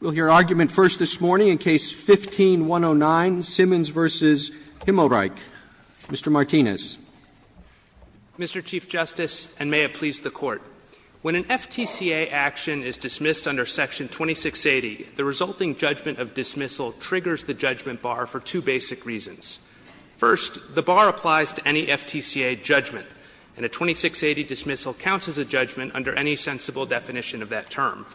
We'll hear argument first this morning in Case 15-109, Simmons v. Himmelreich. Mr. Martinez. Mr. Chief Justice, and may it please the Court. When an FTCA action is dismissed under Section 2680, the resulting judgment of dismissal triggers the judgment bar for two basic reasons. First, the bar applies to any FTCA judgment, and a 2680 dismissal counts as a judgment under any sensible definition of that term.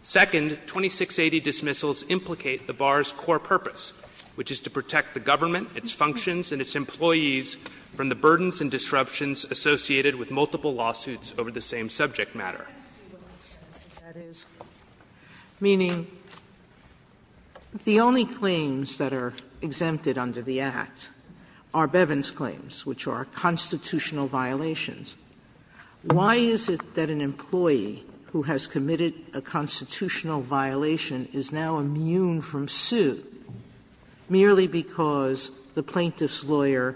Second, 2680 dismissals implicate the bar's core purpose, which is to protect the government, its functions, and its employees from the burdens and disruptions associated with multiple lawsuits over the same subject matter. Sotomayor That is, meaning the only claims that are exempted under the Act are Bevin's claims, which are constitutional violations. Why is it that an employee who has committed a constitutional violation is now immune from suit merely because the plaintiff's lawyer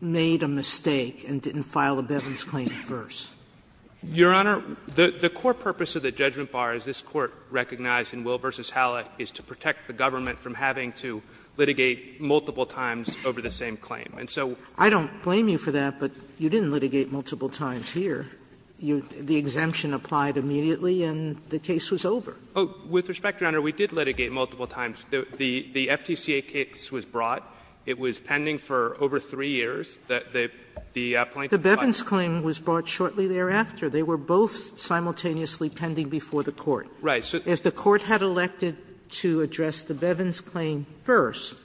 made a mistake and didn't file a Bevin's claim first? Mr. Martinez Your Honor, the core purpose of the judgment bar, as this Court recognized in Will v. Hallett, is to protect the government from having to litigate multiple And so we can't do that. But you didn't litigate multiple times here. The exemption applied immediately, and the case was over. Mr. Martinez With respect, Your Honor, we did litigate multiple times. The FTCA case was brought. It was pending for over 3 years. The plaintiff's lawyer Sotomayor The Bevin's claim was brought shortly thereafter. They were both simultaneously pending before the Court. Mr. Martinez Right. Sotomayor If the Court had elected to address the Bevin's claim first,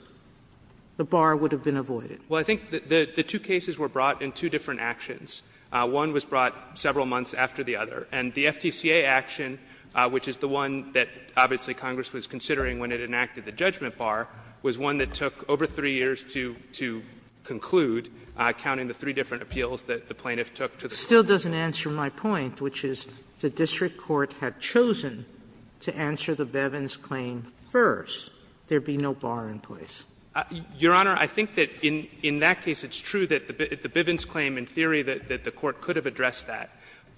the bar would have been avoided. Mr. Martinez Well, I think the two cases were brought in two different actions. One was brought several months after the other. And the FTCA action, which is the one that obviously Congress was considering when it enacted the judgment bar, was one that took over 3 years to conclude, counting the three different appeals that the plaintiff took to the Court. Sotomayor Still doesn't answer my point, which is the district court had chosen to answer the Bevin's claim first. There would be no bar in place. Mr. Martinez Your Honor, I think that in that case it's true that the Bevin's claim, in theory, that the Court could have addressed that.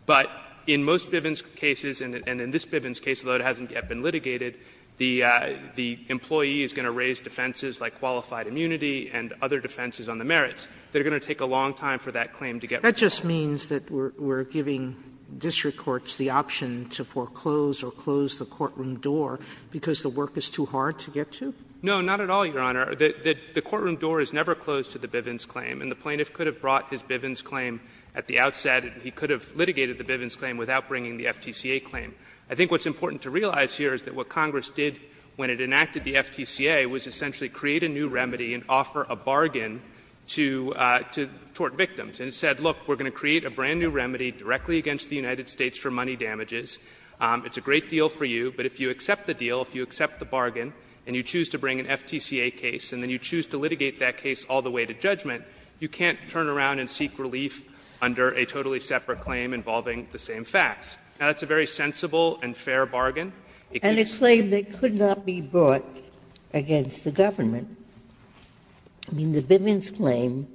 But in most Bevin's cases, and in this Bevin's case, although it hasn't yet been litigated, the employee is going to raise defenses like qualified immunity and other defenses on the merits. They are going to take a long time for that claim to get resolved. Sotomayor That just means that we're giving district courts the option to foreclose or close the courtroom door because the work is too hard to get to? Mr. Martinez No, not at all, Your Honor. The courtroom door is never closed to the Bevin's claim. And the plaintiff could have brought his Bevin's claim at the outset. He could have litigated the Bevin's claim without bringing the FTCA claim. I think what's important to realize here is that what Congress did when it enacted the FTCA was essentially create a new remedy and offer a bargain to tort victims. And it said, look, we're going to create a brand new remedy directly against the United States for money damages. It's a great deal for you, but if you accept the deal, if you accept the bargain and you choose to bring an FTCA case and then you choose to litigate that case all the way to judgment, you can't turn around and seek relief under a totally separate claim involving the same facts. Now, that's a very sensible and fair bargain. It can't be brought against the government. I mean, the Bevin's claim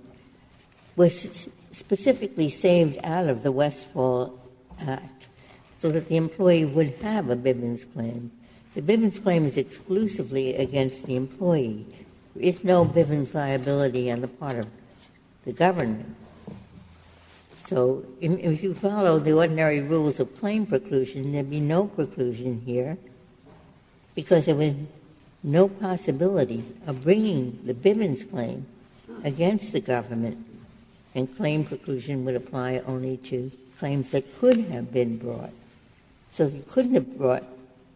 was specifically saved out of the Westfall Act so that the employee would have a Bevin's claim. The Bevin's claim is exclusively against the employee, with no Bevin's liability on the part of the government. So if you follow the ordinary rules of claim preclusion, there would be no preclusion here, because there was no possibility of bringing the Bevin's claim against the government, and claim preclusion would apply only to claims that could have been brought. So if you couldn't have brought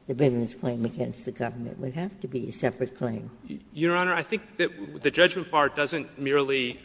the Bevin's claim against the government, it would have to be a separate claim. Your Honor, I think that the judgment part doesn't merely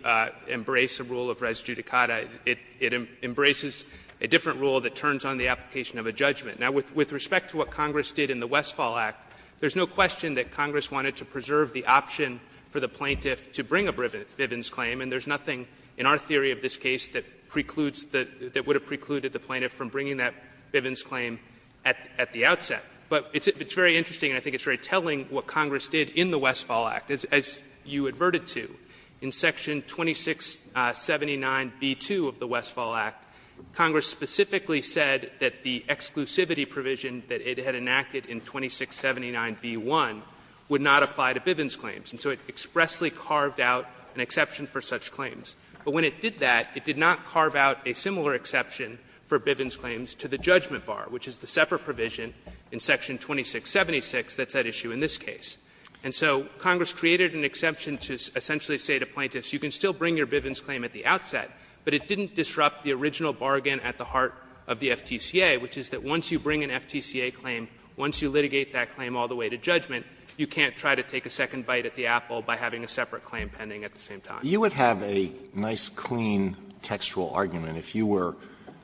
embrace a rule of res judicata. It embraces a different rule that turns on the application of a judgment. Now, with respect to what Congress did in the Westfall Act, there's no question that Congress wanted to preserve the option for the plaintiff to bring a Bevin's claim, and there's nothing in our theory of this case that precludes the — that would preclude the Bevin's claim at the outset. But it's very interesting, and I think it's very telling, what Congress did in the Westfall Act. As you adverted to, in section 2679b2 of the Westfall Act, Congress specifically said that the exclusivity provision that it had enacted in 2679b1 would not apply to Bevin's claims. And so it expressly carved out an exception for such claims. But when it did that, it did not carve out a similar exception for Bevin's claims to the judgment bar, which is the separate provision in section 2676 that's at issue in this case. And so Congress created an exception to essentially say to plaintiffs, you can still bring your Bevin's claim at the outset, but it didn't disrupt the original bargain at the heart of the FTCA, which is that once you bring an FTCA claim, once you litigate that claim all the way to judgment, you can't try to take a second bite at the apple by having a separate claim pending at the same time. Alitoso, you would have a nice, clean textual argument if you were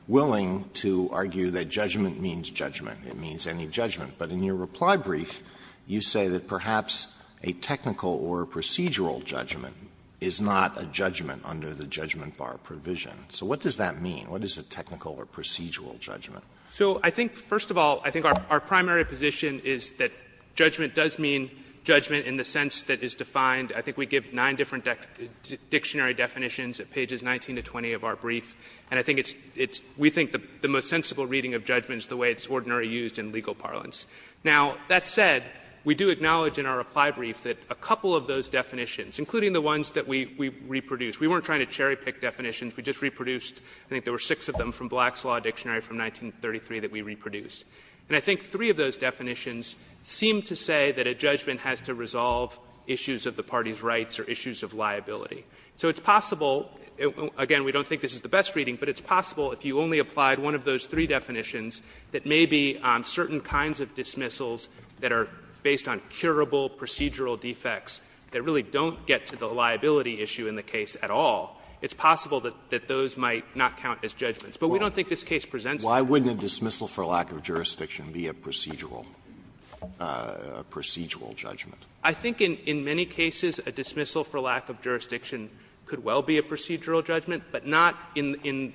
willing to argue that judgment means judgment, it means any judgment. But in your reply brief, you say that perhaps a technical or procedural judgment is not a judgment under the judgment bar provision. So what does that mean? What is a technical or procedural judgment? So I think, first of all, I think our primary position is that judgment does mean judgment in the sense that is defined. I think we give nine different dictionary definitions at pages 19 to 20 of our brief. And I think it's we think the most sensible reading of judgment is the way it's ordinarily used in legal parlance. Now, that said, we do acknowledge in our reply brief that a couple of those definitions, including the ones that we reproduced, we weren't trying to cherry pick definitions. We just reproduced, I think there were six of them from Black's Law Dictionary from 1933 that we reproduced. And I think three of those definitions seem to say that a judgment has to resolve issues of the party's rights or issues of liability. So it's possible, again, we don't think this is the best reading, but it's possible if you only applied one of those three definitions that maybe certain kinds of dismissals that are based on curable procedural defects that really don't get to the liability issue in the case at all, it's possible that those might not count as judgments. But we don't think this case presents that. Alito, why wouldn't a dismissal for lack of jurisdiction be a procedural judgment? I think in many cases a dismissal for lack of jurisdiction could well be a procedural judgment, but not in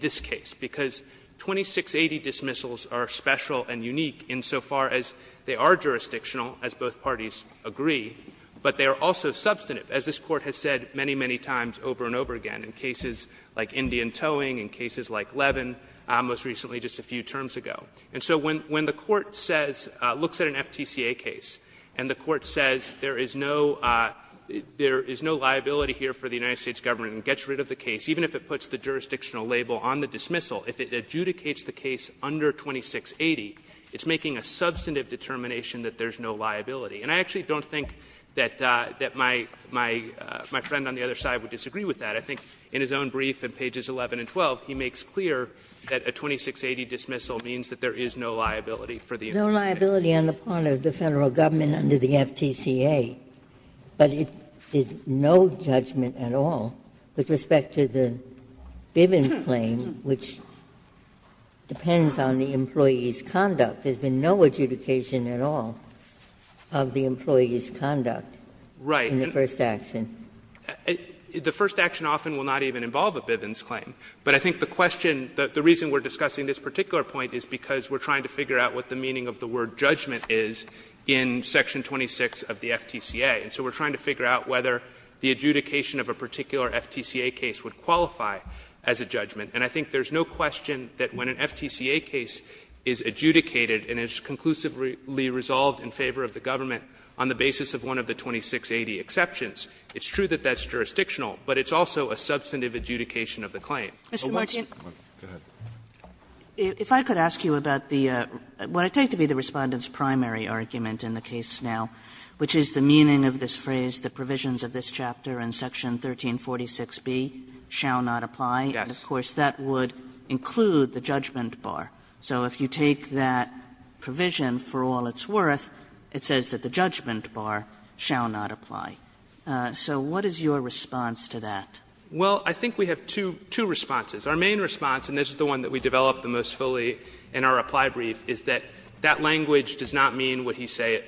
this case, because 2680 dismissals are special and unique insofar as they are jurisdictional, as both parties agree, but they are also substantive, as this Court has said many, many times over and over again in cases like Indian Towing, in cases like Levin, most recently just a few terms ago. And so when the Court says, looks at an FTCA case, and the Court says there is no liability here for the United States Government and gets rid of the case, even if it puts the jurisdictional label on the dismissal, if it adjudicates the case under 2680, it's making a substantive determination that there's no liability. And I actually don't think that my friend on the other side would disagree with that. I think in his own brief in pages 11 and 12, he makes clear that a 2680 dismissal means that there is no liability for the United States Government. Ginsburg No liability on the part of the Federal Government under the FTCA, but it is no judgment at all with respect to the Bivens claim, which depends on the employee's conduct. There's been no adjudication at all of the employee's conduct in the first action. Right. The first action often will not even involve a Bivens claim, but I think the question the reason we're discussing this particular point is because we're trying to figure out what the meaning of the word judgment is in section 26 of the FTCA. And so we're trying to figure out whether the adjudication of a particular FTCA case would qualify as a judgment. And I think there's no question that when an FTCA case is adjudicated and is conclusively resolved in favor of the government on the basis of one of the 2680 exceptions, it's true that that's jurisdictional, but it's also a substantive adjudication of the claim. Kagan. Kagan. Kagan. Kagan. If I could ask you about the what I take to be the Respondent's primary argument in the case now, which is the meaning of this phrase, the provisions of this chapter in section 1346B shall not apply. Yes. And of course, that would include the judgment bar. So if you take that provision for all it's worth, it says that the judgment bar shall not apply. So what is your response to that? Well, I think we have two responses. Our main response, and this is the one that we developed the most fully in our reply brief, is that that language does not mean what he says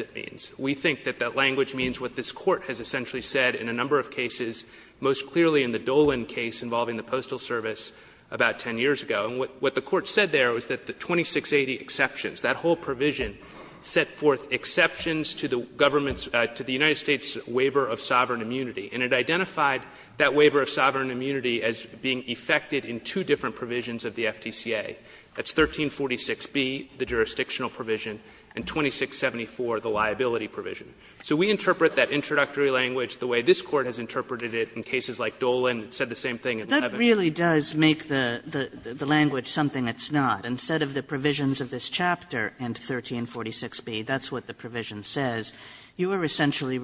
it means. We think that that language means what this Court has essentially said in a number of cases, most clearly in the Dolan case involving the Postal Service about ten years ago. And what the Court said there was that the 2680 exceptions, that whole provision set forth exceptions to the government's to the United States' waiver of sovereign immunity. And it identified that waiver of sovereign immunity as being effected in two different provisions of the FTCA. That's 1346B, the jurisdictional provision, and 2674, the liability provision. So we interpret that introductory language the way this Court has interpreted it in cases like Dolan. It said the same thing in Levin. Kagan. Kagan. Kagan. Kagan. Kagan. Kagan. Kagan. Kagan. Kagan. Kagan. Kagan. Kagan. Kagan.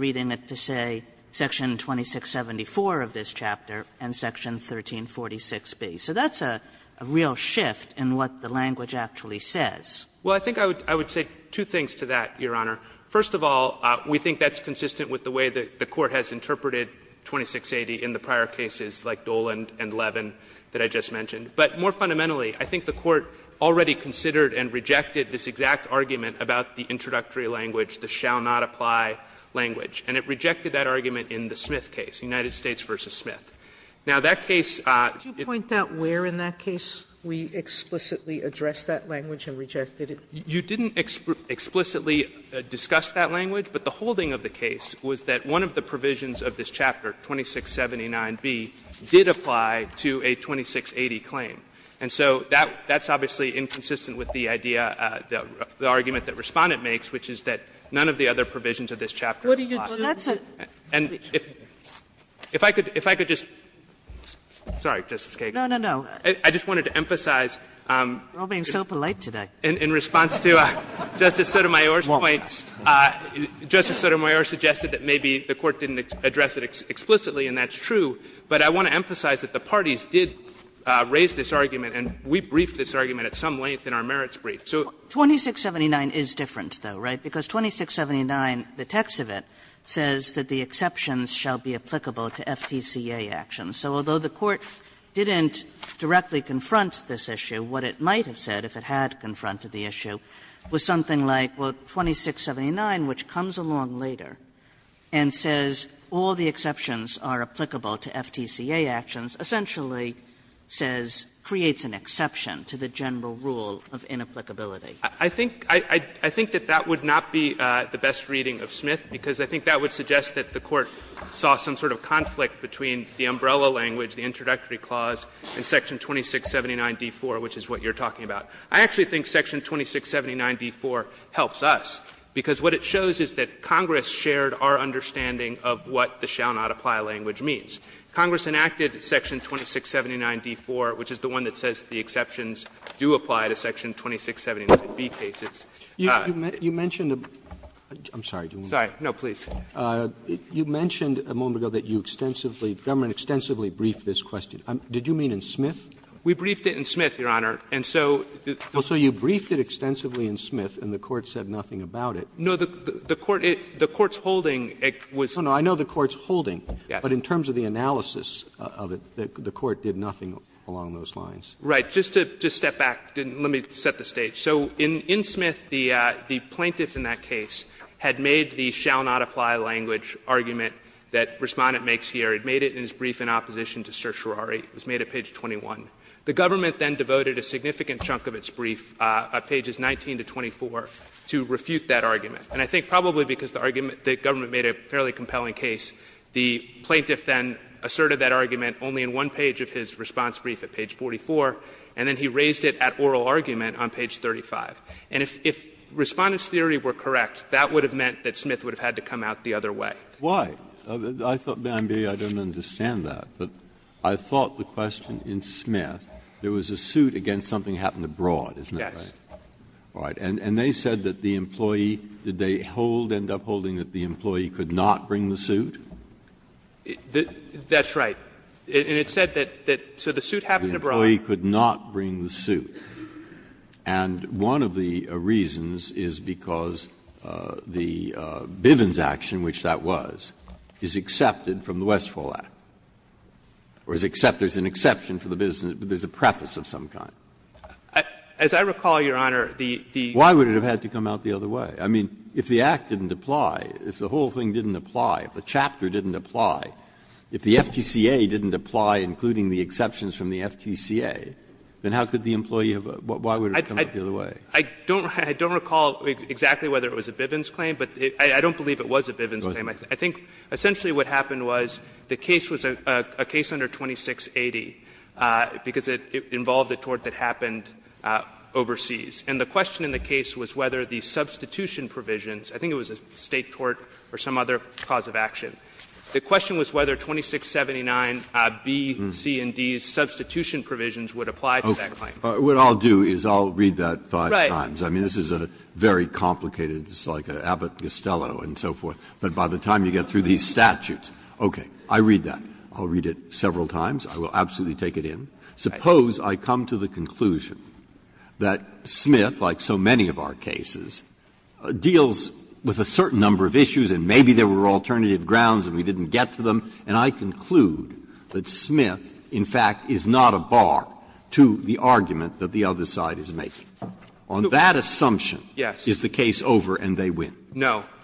Kagan. Kagan. So that's a real shift in what the language actually says. Well, I think I would say two things to that, Your Honor. First of all, we think that's consistent with the way that the Court has interpreted 2680 in the prior cases like Dolan and Levin that I just mentioned. But more fundamentally, I think the Court already considered and rejected this exact argument about the introductory language, the shall not apply language. And it rejected that argument in the Smith case, United States v. Smith. Now, that case at the time, I think that's consistent with the way that the Court Sotomayor, did you point out where in that case we explicitly addressed that language and rejected it? You didn't explicitly discuss that language, but the holding of the case was that one of the provisions of this chapter, 2679b, did apply to a 2680 claim. And so that's obviously inconsistent with the idea, the argument that Respondent makes, which is that none of the other provisions of this chapter apply. And if I could just – sorry, Justice Kagan. I just wanted to emphasize in response to Justice Sotomayor's point, Justice Sotomayor suggested that maybe the Court didn't address it explicitly, and that's true. But I want to emphasize that the parties did raise this argument, and we briefed this argument at some length in our merits brief. So 2679 is different, though, right? Because 2679, the text of it says that the exceptions shall be applicable to FTCA actions. So although the Court didn't directly confront this issue, what it might have said if it had confronted the issue was something like, well, 2679, which comes along later, and says all the exceptions are applicable to FTCA actions, essentially says – creates an exception to the general rule of inapplicability. I think that that would not be the best reading of Smith, because I think that would suggest that the Court saw some sort of conflict between the umbrella language, the introductory clause, and section 2679d4, which is what you're talking about. I actually think section 2679d4 helps us, because what it shows is that Congress shared our understanding of what the shall not apply language means. Congress enacted section 2679d4, which is the one that says the exceptions do apply to section 2679b cases. Robertson, You mentioned a moment ago that you extensively, the government extensively briefed this question. Did you mean in Smith? We briefed it in Smith, Your Honor, and so the Court said nothing about it. No, the Court's holding was. I know the Court's holding, but in terms of the analysis of it, the Court did nothing along those lines. Right. Just to step back, let me set the stage. So in Smith, the plaintiff in that case had made the shall not apply language argument that Respondent makes here. He made it in his brief in opposition to certiorari. It was made at page 21. The government then devoted a significant chunk of its brief, pages 19 to 24, to refute that argument. And I think probably because the government made a fairly compelling case, the plaintiff then asserted that argument only in one page of his response brief at page 44, and then he raised it at oral argument on page 35. And if Respondent's theory were correct, that would have meant that Smith would have had to come out the other way. Why? I thought, may I be, I don't understand that, but I thought the question in Smith, Yes. Breyer. And they said that the employee, did they hold, end up holding, that the employee could not bring the suit? That's right. And it said that, so the suit happened to be brought up. The employee could not bring the suit. And one of the reasons is because the Bivens action, which that was, is accepted from the Westfall Act, or is except, there's an exception for the Bivens, but there's a preface of some kind. As I recall, Your Honor, the, the Why would it have had to come out the other way? I mean, if the Act didn't apply, if the whole thing didn't apply, if the chapter didn't apply, if the FTCA didn't apply, including the exceptions from the FTCA, then how could the employee have, why would it have come out the other way? I don't, I don't recall exactly whether it was a Bivens claim, but I don't believe it was a Bivens claim. I think essentially what happened was the case was a case under 2680 because it involved a tort that happened overseas. And the question in the case was whether the substitution provisions, I think it was a State tort or some other cause of action, the question was whether 2679 B, C, and D's substitution provisions would apply to that claim. Breyer, What I'll do is I'll read that five times. I mean, this is a very complicated, it's like Abbott-Gostello and so forth, but by the time you get through these statutes, okay, I'll read that, I'll read it several times, I will absolutely take it in. Suppose I come to the conclusion that Smith, like so many of our cases, deals with a certain number of issues and maybe there were alternative grounds and we didn't get to them, and I conclude that Smith, in fact, is not a bar to the argument that the other side is making. On that assumption is the case over and they win.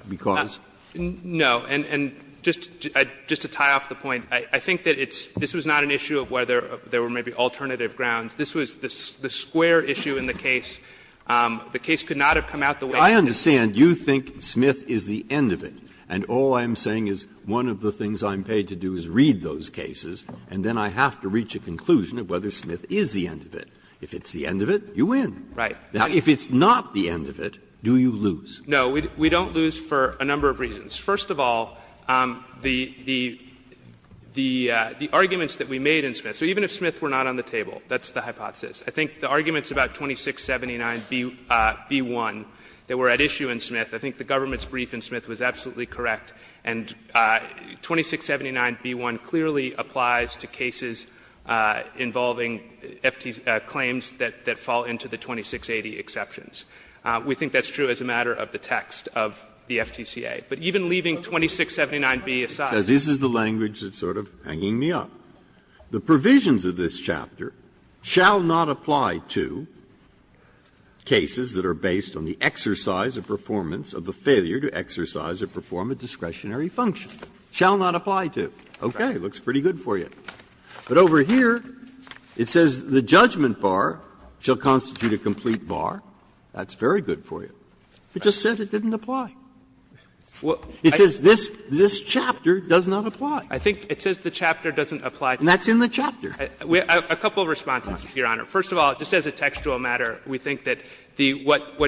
Because? No. And just to tie off the point, I think that it's, this was not an issue of whether there were maybe alternative grounds. This was the square issue in the case. The case could not have come out the way that it did. Breyer, I understand you think Smith is the end of it, and all I'm saying is one of the things I'm paid to do is read those cases and then I have to reach a conclusion of whether Smith is the end of it. If it's the end of it, you win. Right. Now, if it's not the end of it, do you lose? No. We don't lose for a number of reasons. First of all, the arguments that we made in Smith, so even if Smith were not on the table, that's the hypothesis. I think the arguments about 2679b1 that were at issue in Smith, I think the government's brief in Smith was absolutely correct. And 2679b1 clearly applies to cases involving claims that fall into the 2680 exceptions. We think that's true as a matter of the text of the FTCA. But even leaving 2679b aside. Breyer, this is the language that's sort of hanging me up. The provisions of this chapter shall not apply to cases that are based on the exercise or performance of the failure to exercise or perform a discretionary function. Shall not apply to. Okay. It looks pretty good for you. But over here, it says the judgment bar shall constitute a complete bar. That's very good for you. It just said it didn't apply. It says this chapter does not apply. I think it says the chapter doesn't apply. And that's in the chapter. A couple of responses, Your Honor. First of all, just as a textual matter, we think that the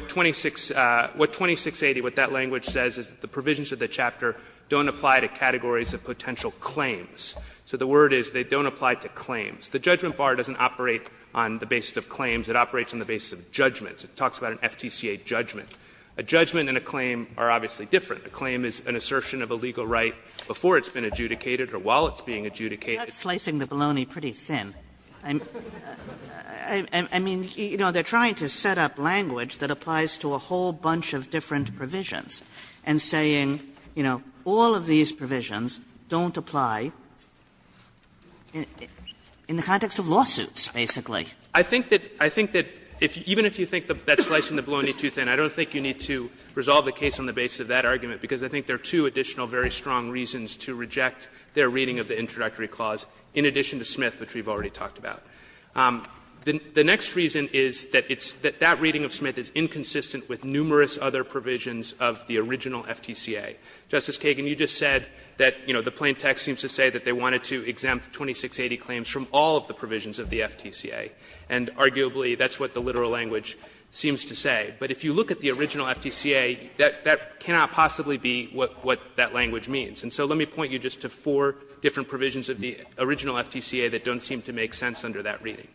2680, what that language says is that the provisions of the chapter don't apply to categories of potential claims. So the word is they don't apply to claims. The judgment bar doesn't operate on the basis of claims. It operates on the basis of judgments. It talks about an FTCA judgment. A judgment and a claim are obviously different. A claim is an assertion of a legal right before it's been adjudicated or while it's being adjudicated. Kagan. That's slicing the baloney pretty thin. I mean, you know, they're trying to set up language that applies to a whole bunch of different provisions and saying, you know, all of these provisions don't apply in the context of lawsuits, basically. I think that even if you think that's slicing the baloney too thin, I don't think you need to resolve the case on the basis of that argument, because I think there are two additional very strong reasons to reject their reading of the introductory clause in addition to Smith, which we've already talked about. The next reason is that it's that that reading of Smith is inconsistent with numerous other provisions of the original FTCA. Justice Kagan, you just said that, you know, the plain text seems to say that they wanted to exempt 2680 claims from all of the provisions of the FTCA, and arguably that's what the literal language seems to say. But if you look at the original FTCA, that cannot possibly be what that language means. And so let me point you just to four different provisions of the original FTCA that don't seem to make sense under that reading.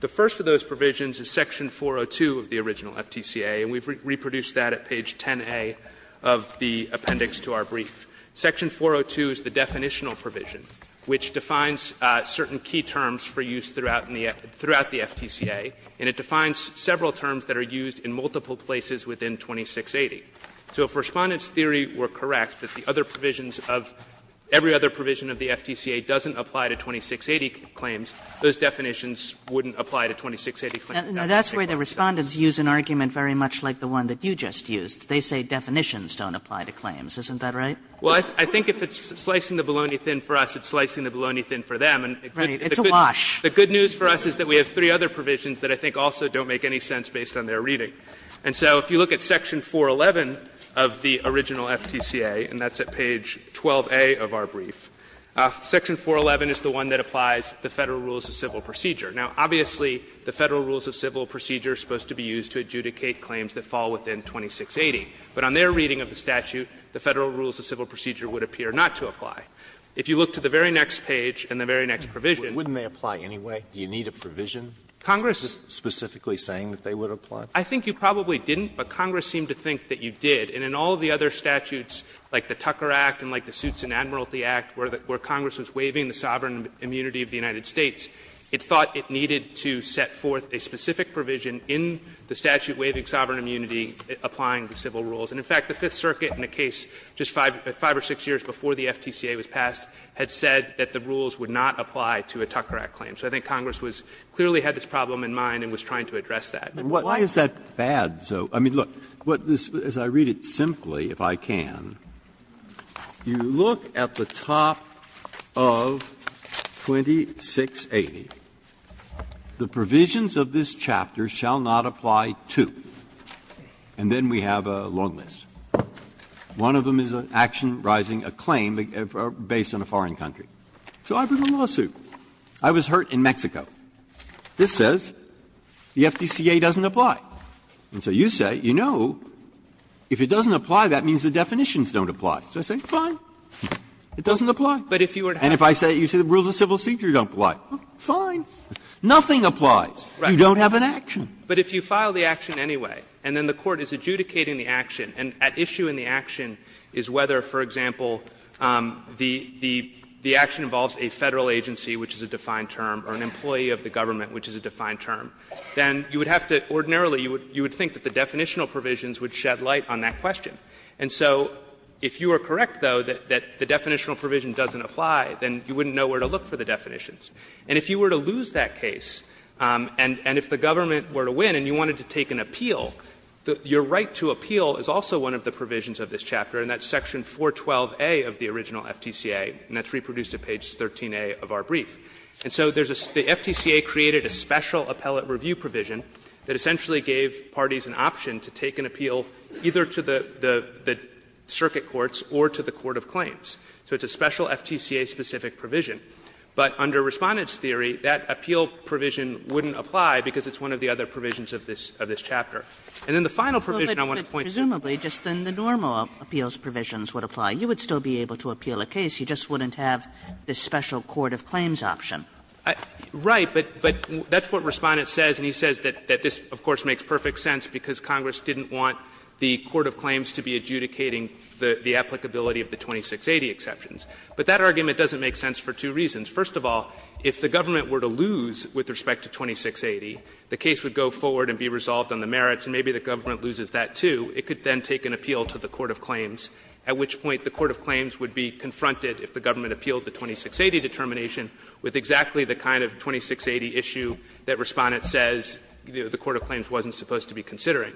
The first of those provisions is section 402 of the original FTCA, and we've reproduced that at page 10a of the appendix to our brief. Section 402 is the definitional provision, which defines certain key terms for use throughout the FTCA, and it defines several terms that are used in multiple places within 2680. So if Respondent's theory were correct, that the other provisions of every other provision of the FTCA doesn't apply to 2680 claims, those definitions wouldn't That's what it says. Kagan. Kagan. Now, that's why the Respondents use an argument very much like the one that you just used. They say definitions don't apply to claims. Isn't that right? Well, I think if it's slicing the bologna thin for us, it's slicing the bologna thin for them. And the good news is that the good news is that it's a wash. The good news for us is that we have three other provisions that I think also don't make any sense based on their reading. And so if you look at section 411 of the original FTCA, and that's at page 12a of our brief, section 411 is the one that applies the Federal Rules of Civil Procedure. Now, obviously, the Federal Rules of Civil Procedure is supposed to be used to adjudicate claims that fall within 2680. But on their reading of the statute, the Federal Rules of Civil Procedure would appear not to apply. If you look to the very next page and the very next provision. Alito, wouldn't they apply anyway? Do you need a provision specifically saying that they would apply? I think you probably didn't, but Congress seemed to think that you did. And in all of the other statutes, like the Tucker Act and like the Suits and Admiralty Act, where Congress was waiving the sovereign immunity of the United States, it thought it needed to set forth a specific provision in the statute waiving sovereign immunity, applying the civil rules. And, in fact, the Fifth Circuit in a case just 5 or 6 years before the FTCA was passed had said that the rules would not apply to a Tucker Act claim. So I think Congress was – clearly had this problem in mind and was trying to address that. Breyer. And why is that bad, though? I mean, look, what this – as I read it simply, if I can, you look at the top of 2680. The provisions of this chapter shall not apply to, and then we have a long list. One of them is an action rising a claim based on a foreign country. So I bring a lawsuit. I was hurt in Mexico. This says the FTCA doesn't apply. And so you say, you know, if it doesn't apply, that means the definitions don't apply. So I say, fine, it doesn't apply. And if I say the rules of civil security don't apply, fine, nothing applies. You don't have an action. But if you file the action anyway, and then the Court is adjudicating the action, and at issue in the action is whether, for example, the action involves a Federal agency, which is a defined term, or an employee of the government, which is a defined term, then you would have to – ordinarily, you would think that the definitional provisions would shed light on that question. And so if you are correct, though, that the definitional provision doesn't apply, then you wouldn't know where to look for the definitions. And if you were to lose that case, and if the government were to win and you wanted to take an appeal, your right to appeal is also one of the provisions of this chapter, and that's section 412a of the original FTCA, and that's reproduced at page 13a of our brief. And so there's a – the FTCA created a special appellate review provision that essentially gave parties an option to take an appeal either to the circuit courts or to the court of claims. So it's a special FTCA-specific provision. But under Respondent's theory, that appeal provision wouldn't apply because it's one of the other provisions of this chapter. And then the final provision I want to point to is that's what Respondent says, and he says that this, of course, makes perfect sense because Congress didn't want the court of claims to be adjudicating the applicability of the 2680 exceptions. option. First of all, if the government were to lose with respect to 2680, the case would go forward and be resolved on the merits, and maybe the government loses that, too. It could then take an appeal to the court of claims, at which point the court of claims would be confronted, if the government appealed the 2680 determination, with exactly the kind of 2680 issue that Respondent says the court of claims wasn't supposed to be considering.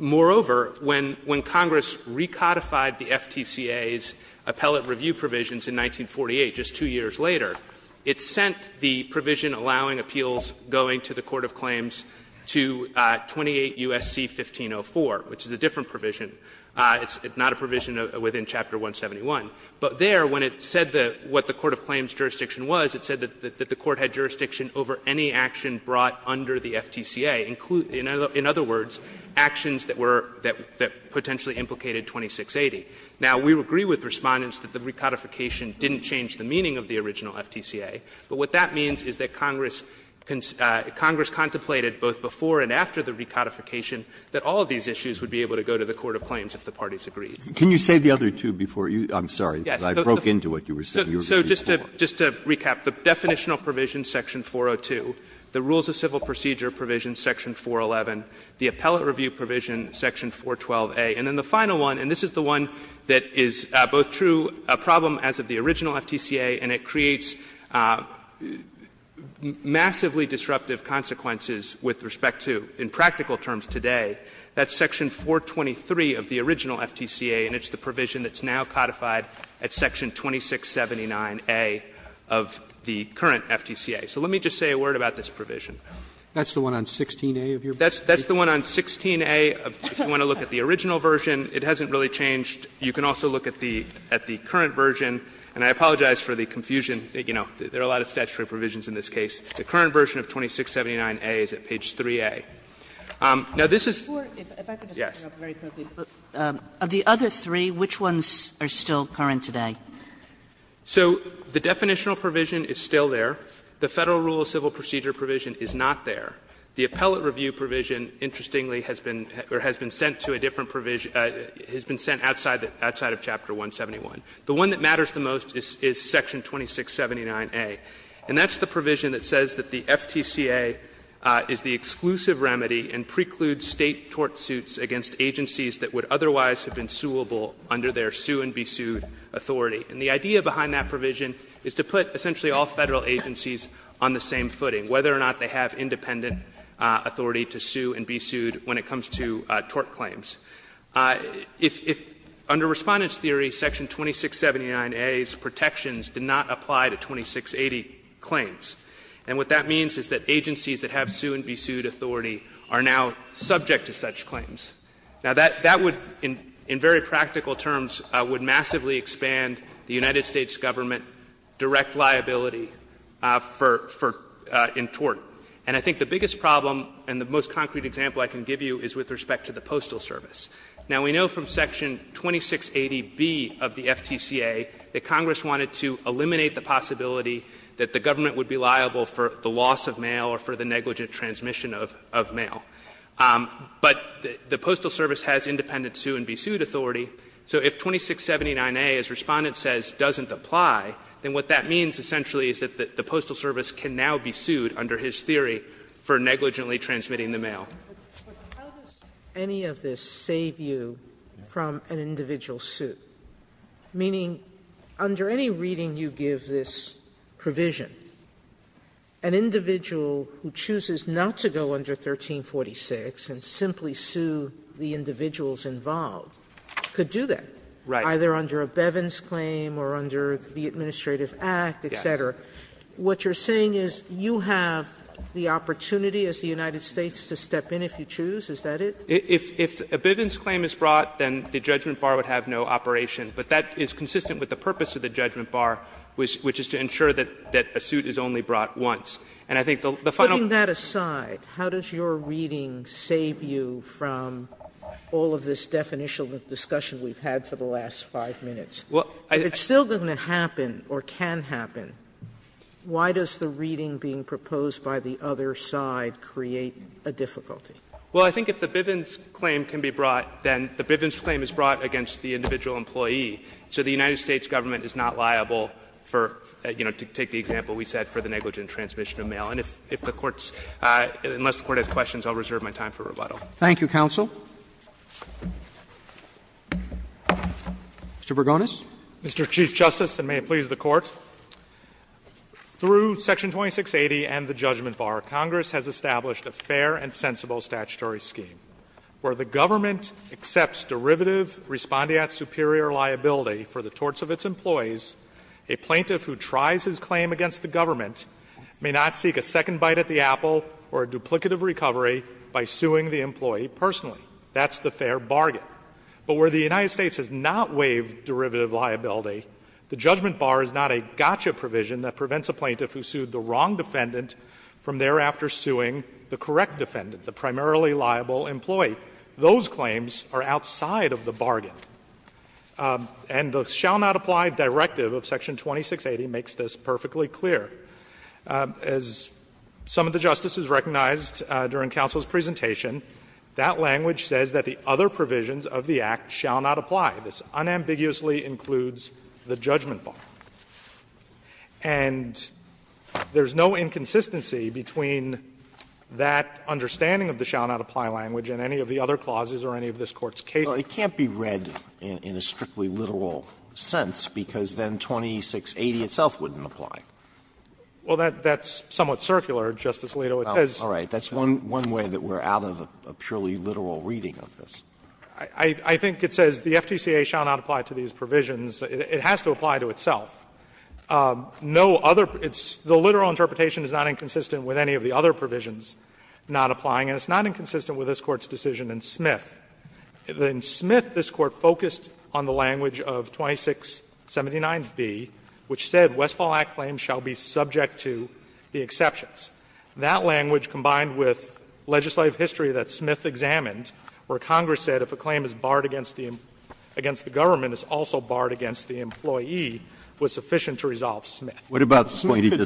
Moreover, when Congress recodified the FTCA's appellate review provisions in 1948, just two years later, it sent the provision allowing appeals going to the court of claims to 28 U.S.C. 1504, which is a different provision. It's not a provision within Chapter 171. But there, when it said what the court of claims jurisdiction was, it said that the court had jurisdiction over any action brought under the FTCA, in other words, actions that were that potentially implicated 2680. Now, we agree with Respondents that the recodification didn't change the meaning of the original FTCA, but what that means is that Congress contemplated both before and after the recodification that all of these issues would be able to go to the court of claims if the parties agreed. Breyer, I'm sorry, but I broke into what you were saying. You were reading it wrong. So just to recap, the definitional provision, section 402, the rules of civil procedure provision, section 411, the appellate review provision, section 412a, and then the one that is both true, a problem as of the original FTCA, and it creates massively disruptive consequences with respect to, in practical terms today, that's section 423 of the original FTCA, and it's the provision that's now codified at section 2679a of the current FTCA. So let me just say a word about this provision. Roberts, that's the one on 16a of your brief? You can also look at the current version, and I apologize for the confusion. You know, there are a lot of statutory provisions in this case. The current version of 2679a is at page 3a. Now, this is yes. Kagan. Of the other three, which ones are still current today? So the definitional provision is still there. The Federal rule of civil procedure provision is not there. The appellate review provision, interestingly, has been or has been sent to a different provision, has been sent outside of chapter 171. The one that matters the most is section 2679a, and that's the provision that says that the FTCA is the exclusive remedy and precludes State tort suits against agencies that would otherwise have been suable under their sue-and-be-sued authority. And the idea behind that provision is to put essentially all Federal agencies on the same footing, whether or not they have independent authority to sue and be sued when it comes to tort claims. If under Respondent's theory, section 2679a's protections did not apply to 2680 claims. And what that means is that agencies that have sue-and-be-sued authority are now subject to such claims. Now, that would, in very practical terms, would massively expand the United States Government direct liability for entort. And I think the biggest problem and the most concrete example I can give you is with respect to the Postal Service. Now, we know from section 2680b of the FTCA that Congress wanted to eliminate the possibility that the Government would be liable for the loss of mail or for the negligent transmission of mail. But the Postal Service has independent sue-and-be-sued authority. So if 2679a, as Respondent says, doesn't apply, then what that means essentially is that the Postal Service can now be sued under his theory for negligently transmitting the mail. Sotomayor, but how does any of this save you from an individual suit? Meaning, under any reading you give this provision, an individual who chooses not to go under 1346 and simply sue the individuals involved could do that, either under a Bevin's claim or under the Administrative Act, et cetera. What you're saying is you have the opportunity as the United States to step in if you choose, is that it? If a Bevin's claim is brought, then the judgment bar would have no operation. But that is consistent with the purpose of the judgment bar, which is to ensure that a suit is only brought once. And I think the final point is that there is no way to go under 1346, but it's a very simple case. Sotomayor, putting that aside, how does your reading save you from all of this definitional discussion we've had for the last 5 minutes? If it still doesn't happen or can happen, why does the reading being proposed by the other side create a difficulty? Well, I think if the Bevin's claim can be brought, then the Bevin's claim is brought against the individual employee. So the United States Government is not liable for, you know, to take the example we set for the negligent transmission of mail. And if the Court's — unless the Court has questions, I'll reserve my time for rebuttal. Roberts. Thank you, counsel. Mr. Vergonis. Mr. Chief Justice, and may it please the Court, through Section 2680 and the judgment bar, Congress has established a fair and sensible statutory scheme where the government accepts derivative respondeat superior liability for the torts of its employees. A plaintiff who tries his claim against the government may not seek a second bite at the apple or a duplicative recovery by suing the employee personally. That's the fair bargain. But where the United States has not waived derivative liability, the judgment bar is not a gotcha provision that prevents a plaintiff who sued the wrong defendant from thereafter suing the correct defendant, the primarily liable employee. Those claims are outside of the bargain. And the shall not apply directive of Section 2680 makes this perfectly clear. As some of the justices recognized during counsel's presentation, that language says that the other provisions of the Act shall not apply. This unambiguously includes the judgment bar. And there's no inconsistency between that understanding of the shall not apply language and any of the other clauses or any of this Court's cases. Alito, it can't be read in a strictly literal sense, because then 2680 itself wouldn't apply. Well, that's somewhat circular, Justice Alito. It says that. Alito, that's one way that we're out of a purely literal reading of this. I think it says the FTCA shall not apply to these provisions. It has to apply to itself. No other – the literal interpretation is not inconsistent with any of the other provisions not applying, and it's not inconsistent with this Court's decision in Smith. In Smith, this Court focused on the language of 2679b, which said Westfall Act claims shall be subject to the exceptions. That language, combined with legislative history that Smith examined, where Congress said if a claim is barred against the government, it's also barred against the employee, was sufficient to resolve Smith. Alito,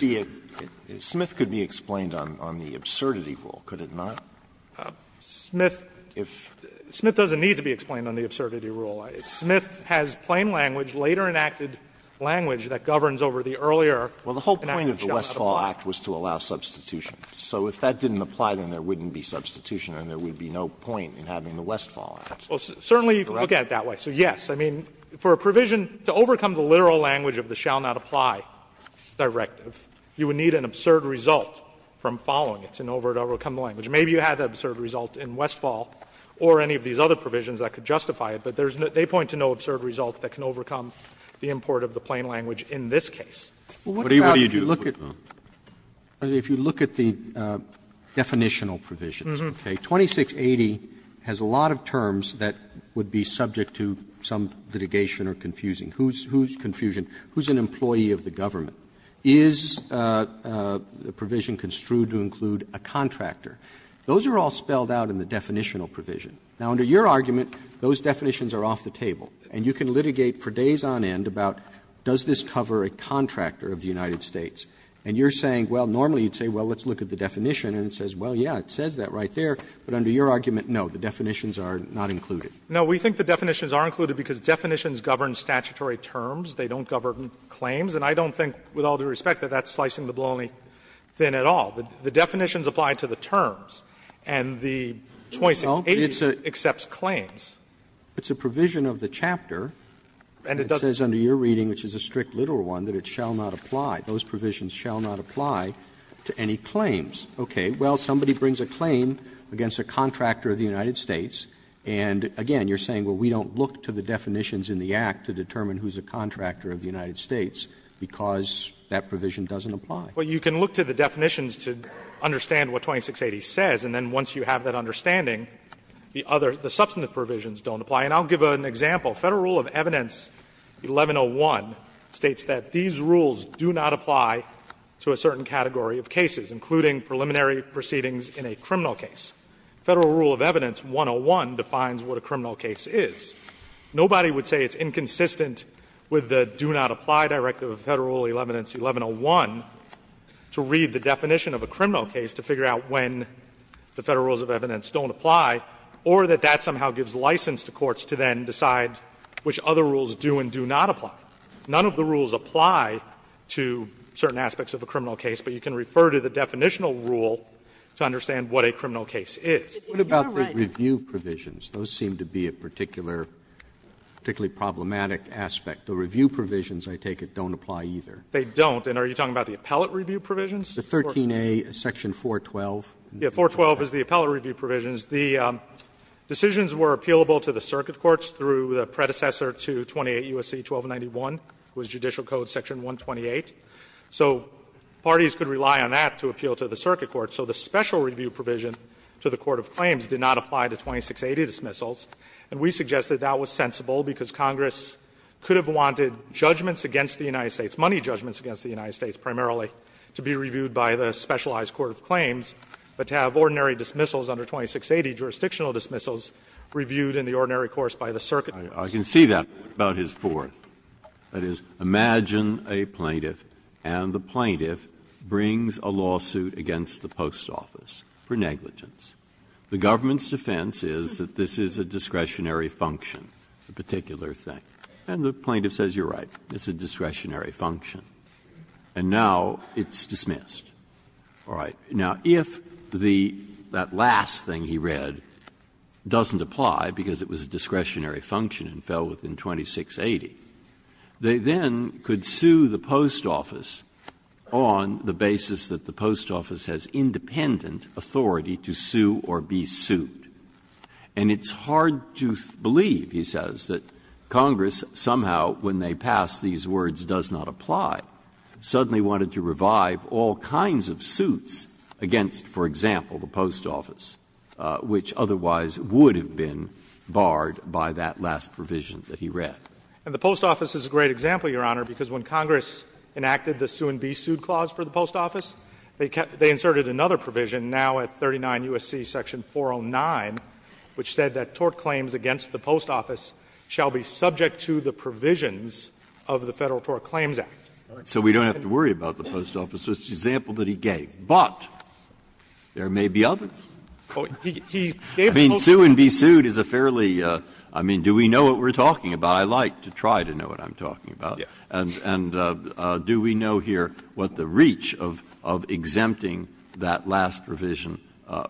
it could be explained on the absurdity rule, could it not? Smith doesn't need to be explained on the absurdity rule. Smith has plain language, later enacted language that governs over the earlier enacted shall not apply. Alito, well, the whole point of the Westfall Act was to allow substitution. So if that didn't apply, then there wouldn't be substitution and there would be no point in having the Westfall Act. Correct? Well, certainly you can look at it that way. So, yes, I mean, for a provision to overcome the literal language of the shall not apply directive, you would need an absurd result from following it in order to overcome the language. Maybe you had the absurd result in Westfall or any of these other provisions that could justify it, but there's no – they point to no absurd result that can overcome the import of the plain language in this case. What about if you look at the definitional provisions, okay? 2680 has a lot of terms that would be subject to some litigation or confusing. Who's confusion? Who's an employee of the government? Is the provision construed to include a contractor? Those are all spelled out in the definitional provision. Now, under your argument, those definitions are off the table, and you can litigate for days on end about does this cover a contractor of the United States. And you're saying, well, normally you'd say, well, let's look at the definition, and it says, well, yes, it says that right there. But under your argument, no, the definitions are not included. No, we think the definitions are included because definitions govern statutory terms. They don't govern claims. And I don't think, with all due respect, that that's slicing the baloney thin at all. The definitions apply to the terms, and the 2680 accepts claims. Roberts, it's a provision of the chapter that says under your reading, which is a strict literal one, that it shall not apply. Those provisions shall not apply to any claims. Okay. Well, somebody brings a claim against a contractor of the United States, and, again, you're saying, well, we don't look to the definitions in the Act to determine who's a contractor of the United States because that provision doesn't apply. Well, you can look to the definitions to understand what 2680 says, and then once you have that understanding, the other, the substantive provisions don't apply. And I'll give an example. Federal Rule of Evidence 1101 states that these rules do not apply to a certain category of cases, including preliminary proceedings in a criminal case. Federal Rule of Evidence 101 defines what a criminal case is. Nobody would say it's inconsistent with the do not apply directive of Federal Rule of Evidence 1101 to read the definition of a criminal case to figure out when the Federal Rules of Evidence don't apply or that that somehow gives license to courts to then decide which other rules do and do not apply. None of the rules apply to certain aspects of a criminal case, but you can refer to the definitional rule to understand what a criminal case is. Roberts, what about the review provisions? Those seem to be a particular, particularly problematic aspect. The review provisions, I take it, don't apply either. They don't. And are you talking about the appellate review provisions? The 13a, section 412. Yeah, 412 is the appellate review provisions. The decisions were appealable to the circuit courts through the predecessor to 28 U.S.C. 1291, which was Judicial Code section 128. So parties could rely on that to appeal to the circuit court. So the special review provision to the court of claims did not apply to 2680 dismissals, and we suggest that that was sensible because Congress could have wanted judgments against the United States, money judgments against the United States primarily to be reviewed by the specialized court of claims, but to have ordinary dismissals under 2680 jurisdictional dismissals reviewed in the ordinary course by the circuit. Breyer, I can see that, but what about his fourth? That is, imagine a plaintiff and the plaintiff brings a lawsuit against the post office for negligence. The government's defense is that this is a discretionary function, a particular thing. And the plaintiff says, you're right, it's a discretionary function. And now it's dismissed. All right. Now, if the last thing he read doesn't apply because it was a discretionary function and fell within 2680, they then could sue the post office on the basis that the post office has independent authority to sue or be sued. And it's hard to believe, he says, that Congress somehow, when they pass these words does not apply, suddenly wanted to revive all kinds of suits against, for example, the post office, which otherwise would have been barred by that last provision that he read. And the post office is a great example, Your Honor, because when Congress enacted the sue-and-be-sued clause for the post office, they inserted another provision now at 39 U.S.C. section 409, which said that tort claims against the post office shall be subject to the provisions of the Federal Tort Claims Act. Breyer. So we don't have to worry about the post office, so it's an example that he gave. But there may be others. I mean, sue-and-be-sued is a fairly, I mean, do we know what we're talking about? I like to try to know what I'm talking about. And do we know here what the reach of exempting that last provision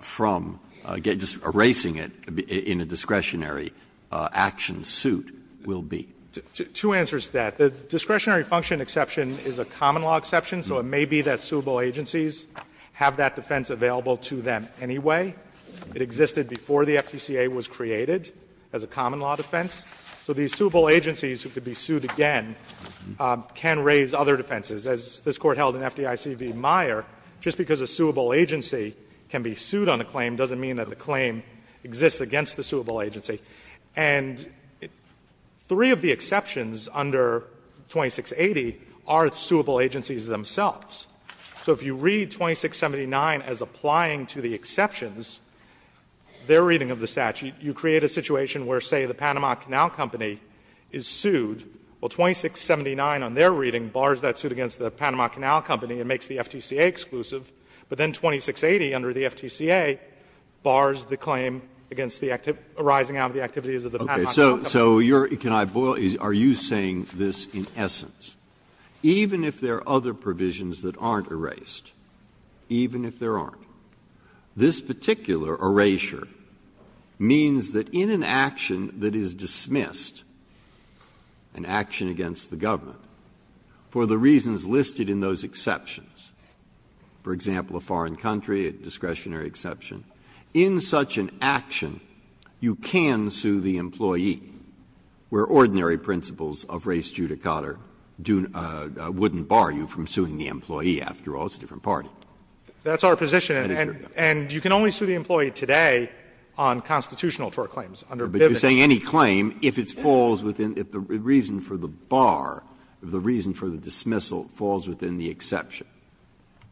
from, just erasing it in a discretionary action suit will be? Fisherman. Two answers to that. The discretionary function exception is a common law exception, so it may be that suable agencies have that defense available to them anyway. It existed before the FPCA was created as a common law defense. So the suable agencies who could be sued again can raise other defenses. As this Court held in FDIC v. Meyer, just because a suable agency can be sued on a claim doesn't mean that the claim exists against the suable agency. And three of the exceptions under 2680 are suable agencies themselves. So if you read 2679 as applying to the exceptions, their reading of the statute, you create a situation where, say, the Panama Canal Company is sued. Well, 2679 on their reading bars that suit against the Panama Canal Company and makes the FTCA exclusive. But then 2680 under the FTCA bars the claim against the arising out of the activities of the Panama Canal Company. Breyer. So you're – can I boil – are you saying this in essence? Even if there are other provisions that aren't erased, even if there aren't, this particular erasure means that in an action that is dismissed, an action against the government, for the reasons listed in those exceptions, for example, a foreign country, a discretionary exception, in such an action you can sue the employee, where ordinary principles of res judicata wouldn't bar you from suing the employee. After all, it's a different party. That is your point. And you can only sue the employee today on constitutional tort claims under Bivens. But you're saying any claim, if it falls within – if the reason for the bar, if the reason for the dismissal falls within the exception.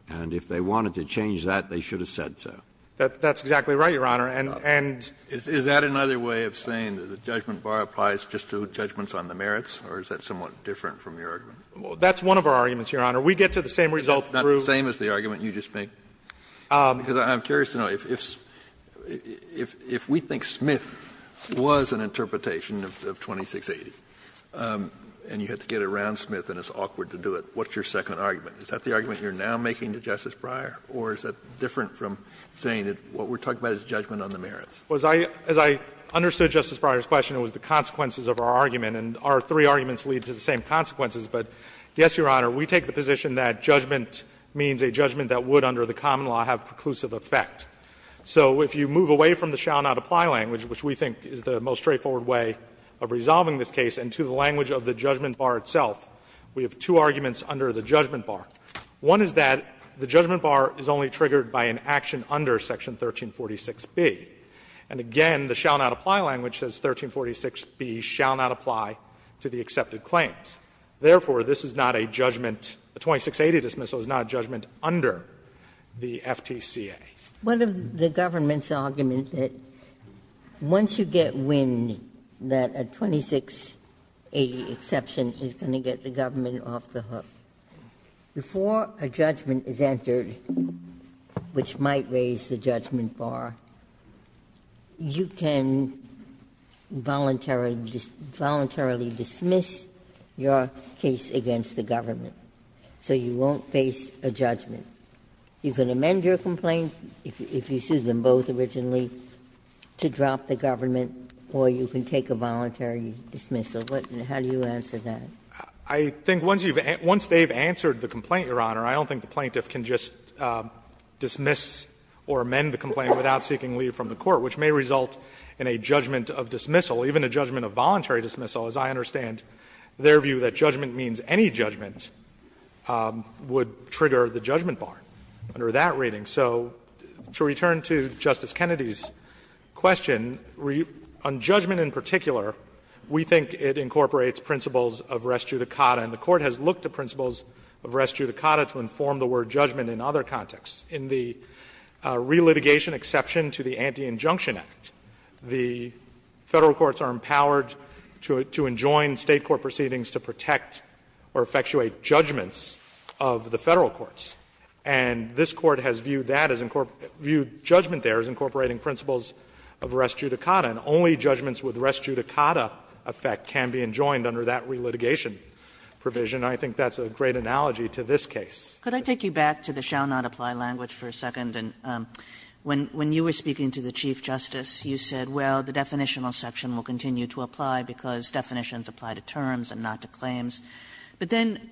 And if they wanted to change that, they should have said so. That's exactly right, Your Honor. And – and – Is that another way of saying that the judgment bar applies just to judgments on the merits, or is that somewhat different from your argument? That's one of our arguments, Your Honor. We get to the same result through – It's not the same as the argument you just made? Because I'm curious to know, if we think Smith was an interpretation of 2680 and you had to get around Smith and it's awkward to do it, what's your second argument? Is that the argument you're now making to Justice Breyer, or is that different from saying that what we're talking about is judgment on the merits? Well, as I – as I understood Justice Breyer's question, it was the consequences of our argument, and our three arguments lead to the same consequences. But, yes, Your Honor, we take the position that judgment means a judgment that would under the common law have preclusive effect. So if you move away from the shall not apply language, which we think is the most straightforward way of resolving this case, and to the language of the judgment bar itself, we have two arguments under the judgment bar. One is that the judgment bar is only triggered by an action under Section 1346b. And again, the shall not apply language says 1346b shall not apply to the accepted claims. Therefore, this is not a judgment – a 2680 dismissal is not a judgment under the FTCA. Ginsburg's argument that once you get wind that a 2680 exception is going to get the government off the hook, before a judgment is entered, which might raise the judgment bar, you can voluntarily – voluntarily dismiss your own judgment bar, and you can drop your case against the government, so you won't face a judgment. You can amend your complaint, if you sued them both originally, to drop the government, or you can take a voluntary dismissal. What – how do you answer that? Fisherman, I think once you've – once they've answered the complaint, Your Honor, I don't think the plaintiff can just dismiss or amend the complaint without seeking leave from the court, which may result in a judgment of dismissal, even a judgment of voluntary dismissal, as I understand their view, that judgment means any judgment would trigger the judgment bar under that rating. So to return to Justice Kennedy's question, on judgment in particular, we think it incorporates principles of res judicata, and the Court has looked to principles of res judicata to inform the word judgment in other contexts. In the relitigation exception to the Anti-Injunction Act, the Federal courts are empowered to enjoin State court proceedings to protect or effectuate judgments of the Federal courts. And this Court has viewed that as – viewed judgment there as incorporating principles of res judicata, and only judgments with res judicata effect can be enjoined under that relitigation provision. And I think that's a great analogy to this case. Kagan. Kagan. Could I take you back to the shall not apply language for a second? When you were speaking to the Chief Justice, you said, well, the definitional section will continue to apply because definitions apply to terms and not to claims. But then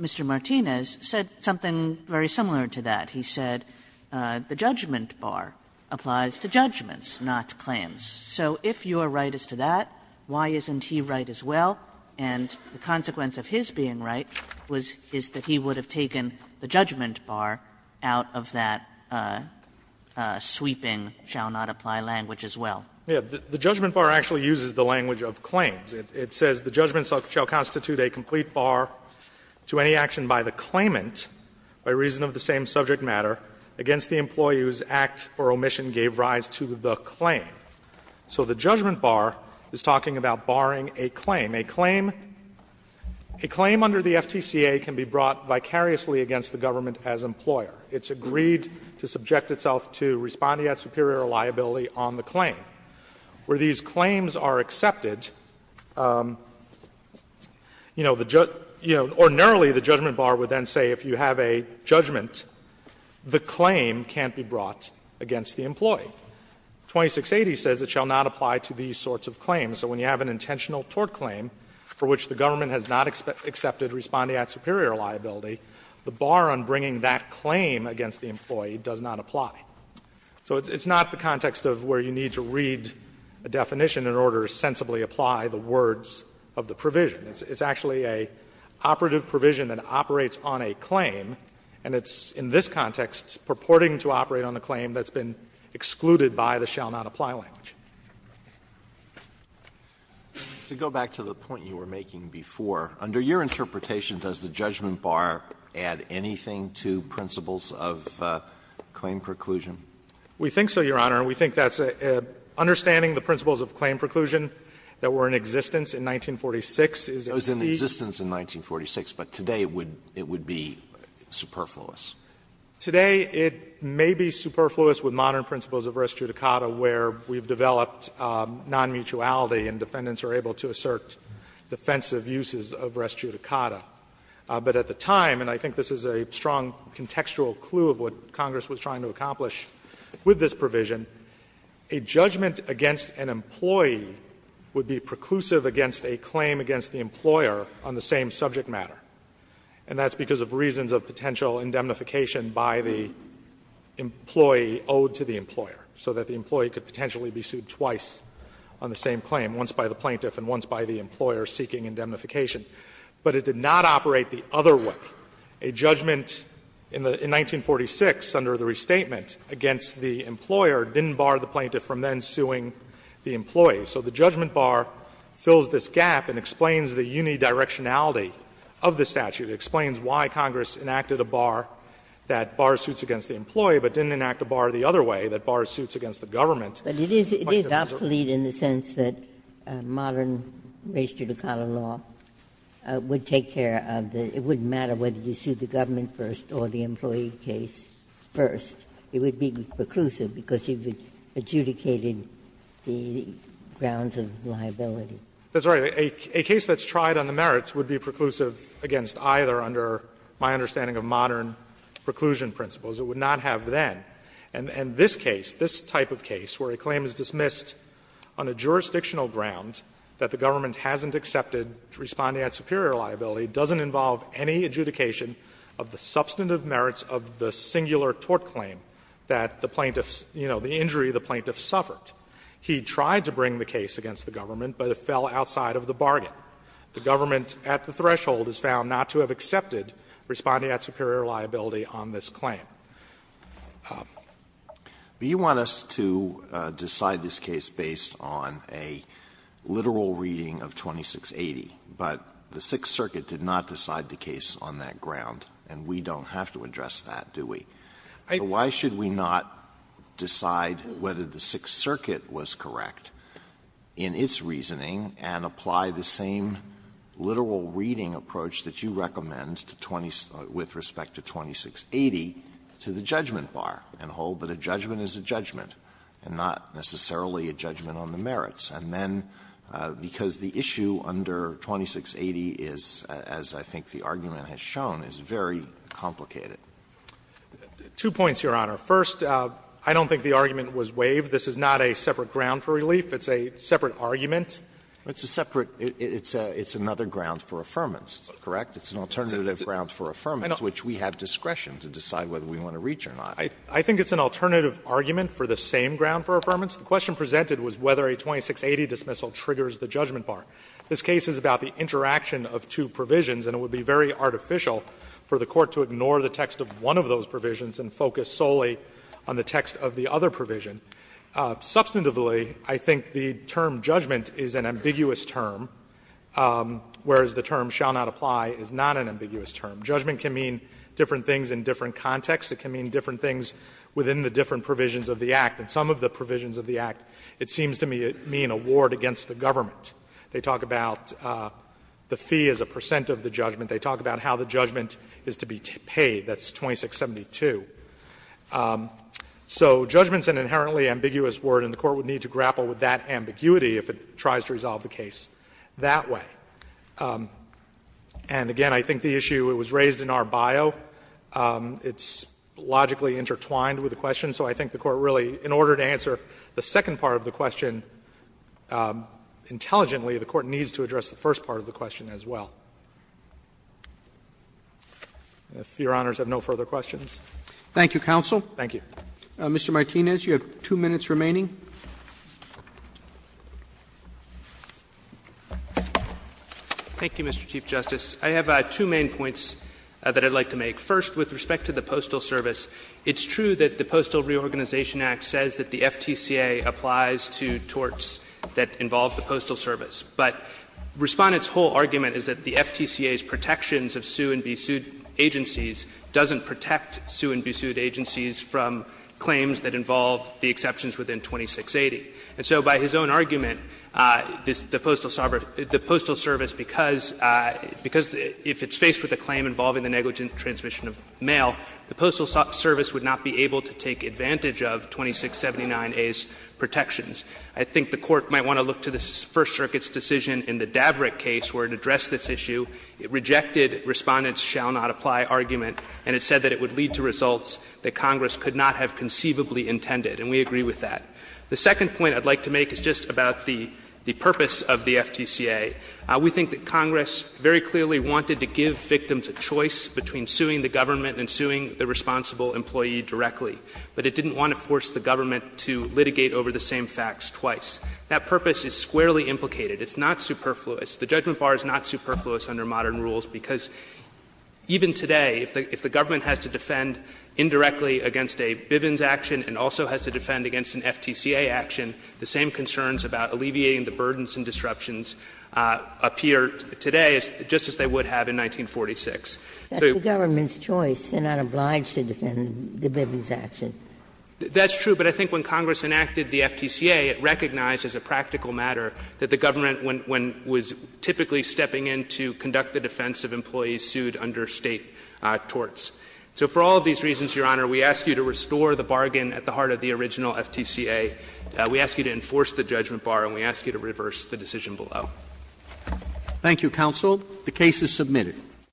Mr. Martinez said something very similar to that. He said the judgment bar applies to judgments, not claims. So if you are right as to that, why isn't he right as well? And the consequence of his being right was – is that he would have taken the judgment bar out of that sweeping shall not apply language as well. Yeah. The judgment bar actually uses the language of claims. It says the judgment shall constitute a complete bar to any action by the claimant by reason of the same subject matter against the employee whose act or omission gave rise to the claim. So the judgment bar is talking about barring a claim. A claim – a claim under the FTCA can be brought vicariously against the government as employer. It's agreed to subject itself to respondeat superior liability on the claim. Where these claims are accepted, you know, the – ordinarily the judgment bar would then say if you have a judgment, the claim can't be brought against the employee. 2680 says it shall not apply to these sorts of claims. So when you have an intentional tort claim for which the government has not accepted respondeat superior liability, the bar on bringing that claim against the employee does not apply. So it's not the context of where you need to read a definition in order to sensibly apply the words of the provision. It's actually an operative provision that operates on a claim, and it's in this case excluded by the shall-not-apply language. Alitoso, to go back to the point you were making before, under your interpretation, does the judgment bar add anything to principles of claim preclusion? We think so, Your Honor. We think that's a – understanding the principles of claim preclusion that were in existence in 1946 is a key. It was in existence in 1946, but today it would be superfluous. Today it may be superfluous with modern principles of res judicata where we've developed nonmutuality and defendants are able to assert defensive uses of res judicata. But at the time, and I think this is a strong contextual clue of what Congress was trying to accomplish with this provision, a judgment against an employee would be preclusive against a claim against the employer on the same subject matter. And that's because of reasons of potential indemnification by the employee owed to the employer, so that the employee could potentially be sued twice on the same claim, once by the plaintiff and once by the employer seeking indemnification. But it did not operate the other way. A judgment in 1946 under the restatement against the employer didn't bar the plaintiff from then suing the employee. So the judgment bar fills this gap and explains the unidirectionality of the statute. It explains why Congress enacted a bar that bar suits against the employee, but didn't enact a bar the other way, that bar suits against the government. But it is obsolete in the sense that modern res judicata law would take care of the – it wouldn't matter whether you sued the government first or the employee case first. It would be preclusive because you've adjudicated the grounds of liability. That's right. A case that's tried on the merits would be preclusive against either, under my understanding of modern preclusion principles. It would not have then. And this case, this type of case, where a claim is dismissed on a jurisdictional ground that the government hasn't accepted responding at superior liability, doesn't involve any adjudication of the substantive merits of the singular tort claim that the plaintiff's, you know, the injury the plaintiff suffered. He tried to bring the case against the government, but it fell outside of the bargain. The government at the threshold is found not to have accepted responding at superior liability on this claim. Alitoso, do you want us to decide this case based on a literal reading of 2680, but the Sixth Circuit did not decide the case on that ground and we don't have to address that, do we? Why should we not decide whether the Sixth Circuit was correct in its reasoning and apply the same literal reading approach that you recommend to 20 to 2680 to the judgment bar and hold that a judgment is a judgment and not necessarily a judgment on the merits? And then, because the issue under 2680 is, as I think the argument has shown, is very complicated. Two points, Your Honor. First, I don't think the argument was waived. This is not a separate ground for relief. It's a separate argument. It's a separate – it's another ground for affirmance, correct? It's an alternative ground for affirmance, which we have discretion to decide whether we want to reach or not. I think it's an alternative argument for the same ground for affirmance. The question presented was whether a 2680 dismissal triggers the judgment bar. This case is about the interaction of two provisions, and it would be very artificial for the Court to ignore the text of one of those provisions and focus solely on the text of the other provision. Substantively, I think the term judgment is an ambiguous term, whereas the term shall not apply is not an ambiguous term. Judgment can mean different things in different contexts. It can mean different things within the different provisions of the Act. In some of the provisions of the Act, it seems to mean a ward against the government. They talk about the fee as a percent of the judgment. They talk about how the judgment is to be paid. That's 2672. So judgment is an inherently ambiguous word, and the Court would need to grapple with that ambiguity if it tries to resolve the case that way. And again, I think the issue was raised in our bio. It's logically intertwined with the question, so I think the Court really, in order to answer the second part of the question intelligently, the Court needs to address the first part of the question as well. If Your Honors have no further questions. Roberts. Thank you, counsel. Martinez. Thank you. Mr. Martinez, you have two minutes remaining. Martinez. Thank you, Mr. Chief Justice. I have two main points that I'd like to make. First, with respect to the Postal Service, it's true that the Postal Reorganization Act says that the FTCA applies to torts that involve the Postal Service, but Respondent's whole argument is that the FTCA's protections of sue-and-be-sued agencies doesn't protect sue-and-be-sued agencies from claims that involve the exceptions within 2680. And so by his own argument, the Postal Service, because if it's faced with a claim involving the negligent transmission of mail, the Postal Service would not be able to take advantage of 2679A's protections. I think the Court might want to look to the First Circuit's decision in the Davret case where it addressed this issue. It rejected Respondent's shall not apply argument, and it said that it would lead to results that Congress could not have conceivably intended, and we agree with that. The second point I'd like to make is just about the purpose of the FTCA. We think that Congress very clearly wanted to give victims a choice between suing the government and suing the responsible employee directly, but it didn't want to force the government to litigate over the same facts twice. That purpose is squarely implicated. It's not superfluous. The judgment bar is not superfluous under modern rules, because even today, if the government has to defend indirectly against a Bivens action and also has to defend against an FTCA action, the same concerns about alleviating the burdens and disruptions appear today just as they would have in 1946. So you would think that the government's choice and not obliged to defend the Bivens action. That's true, but I think when Congress enacted the FTCA, it recognized as a practical matter that the government, when it was typically stepping in to conduct the defense of employees, sued under State torts. So for all of these reasons, Your Honor, we ask you to restore the bargain at the heart of the original FTCA. We ask you to enforce the judgment bar, and we ask you to reverse the decision below. Roberts. Thank you, counsel. The case is submitted.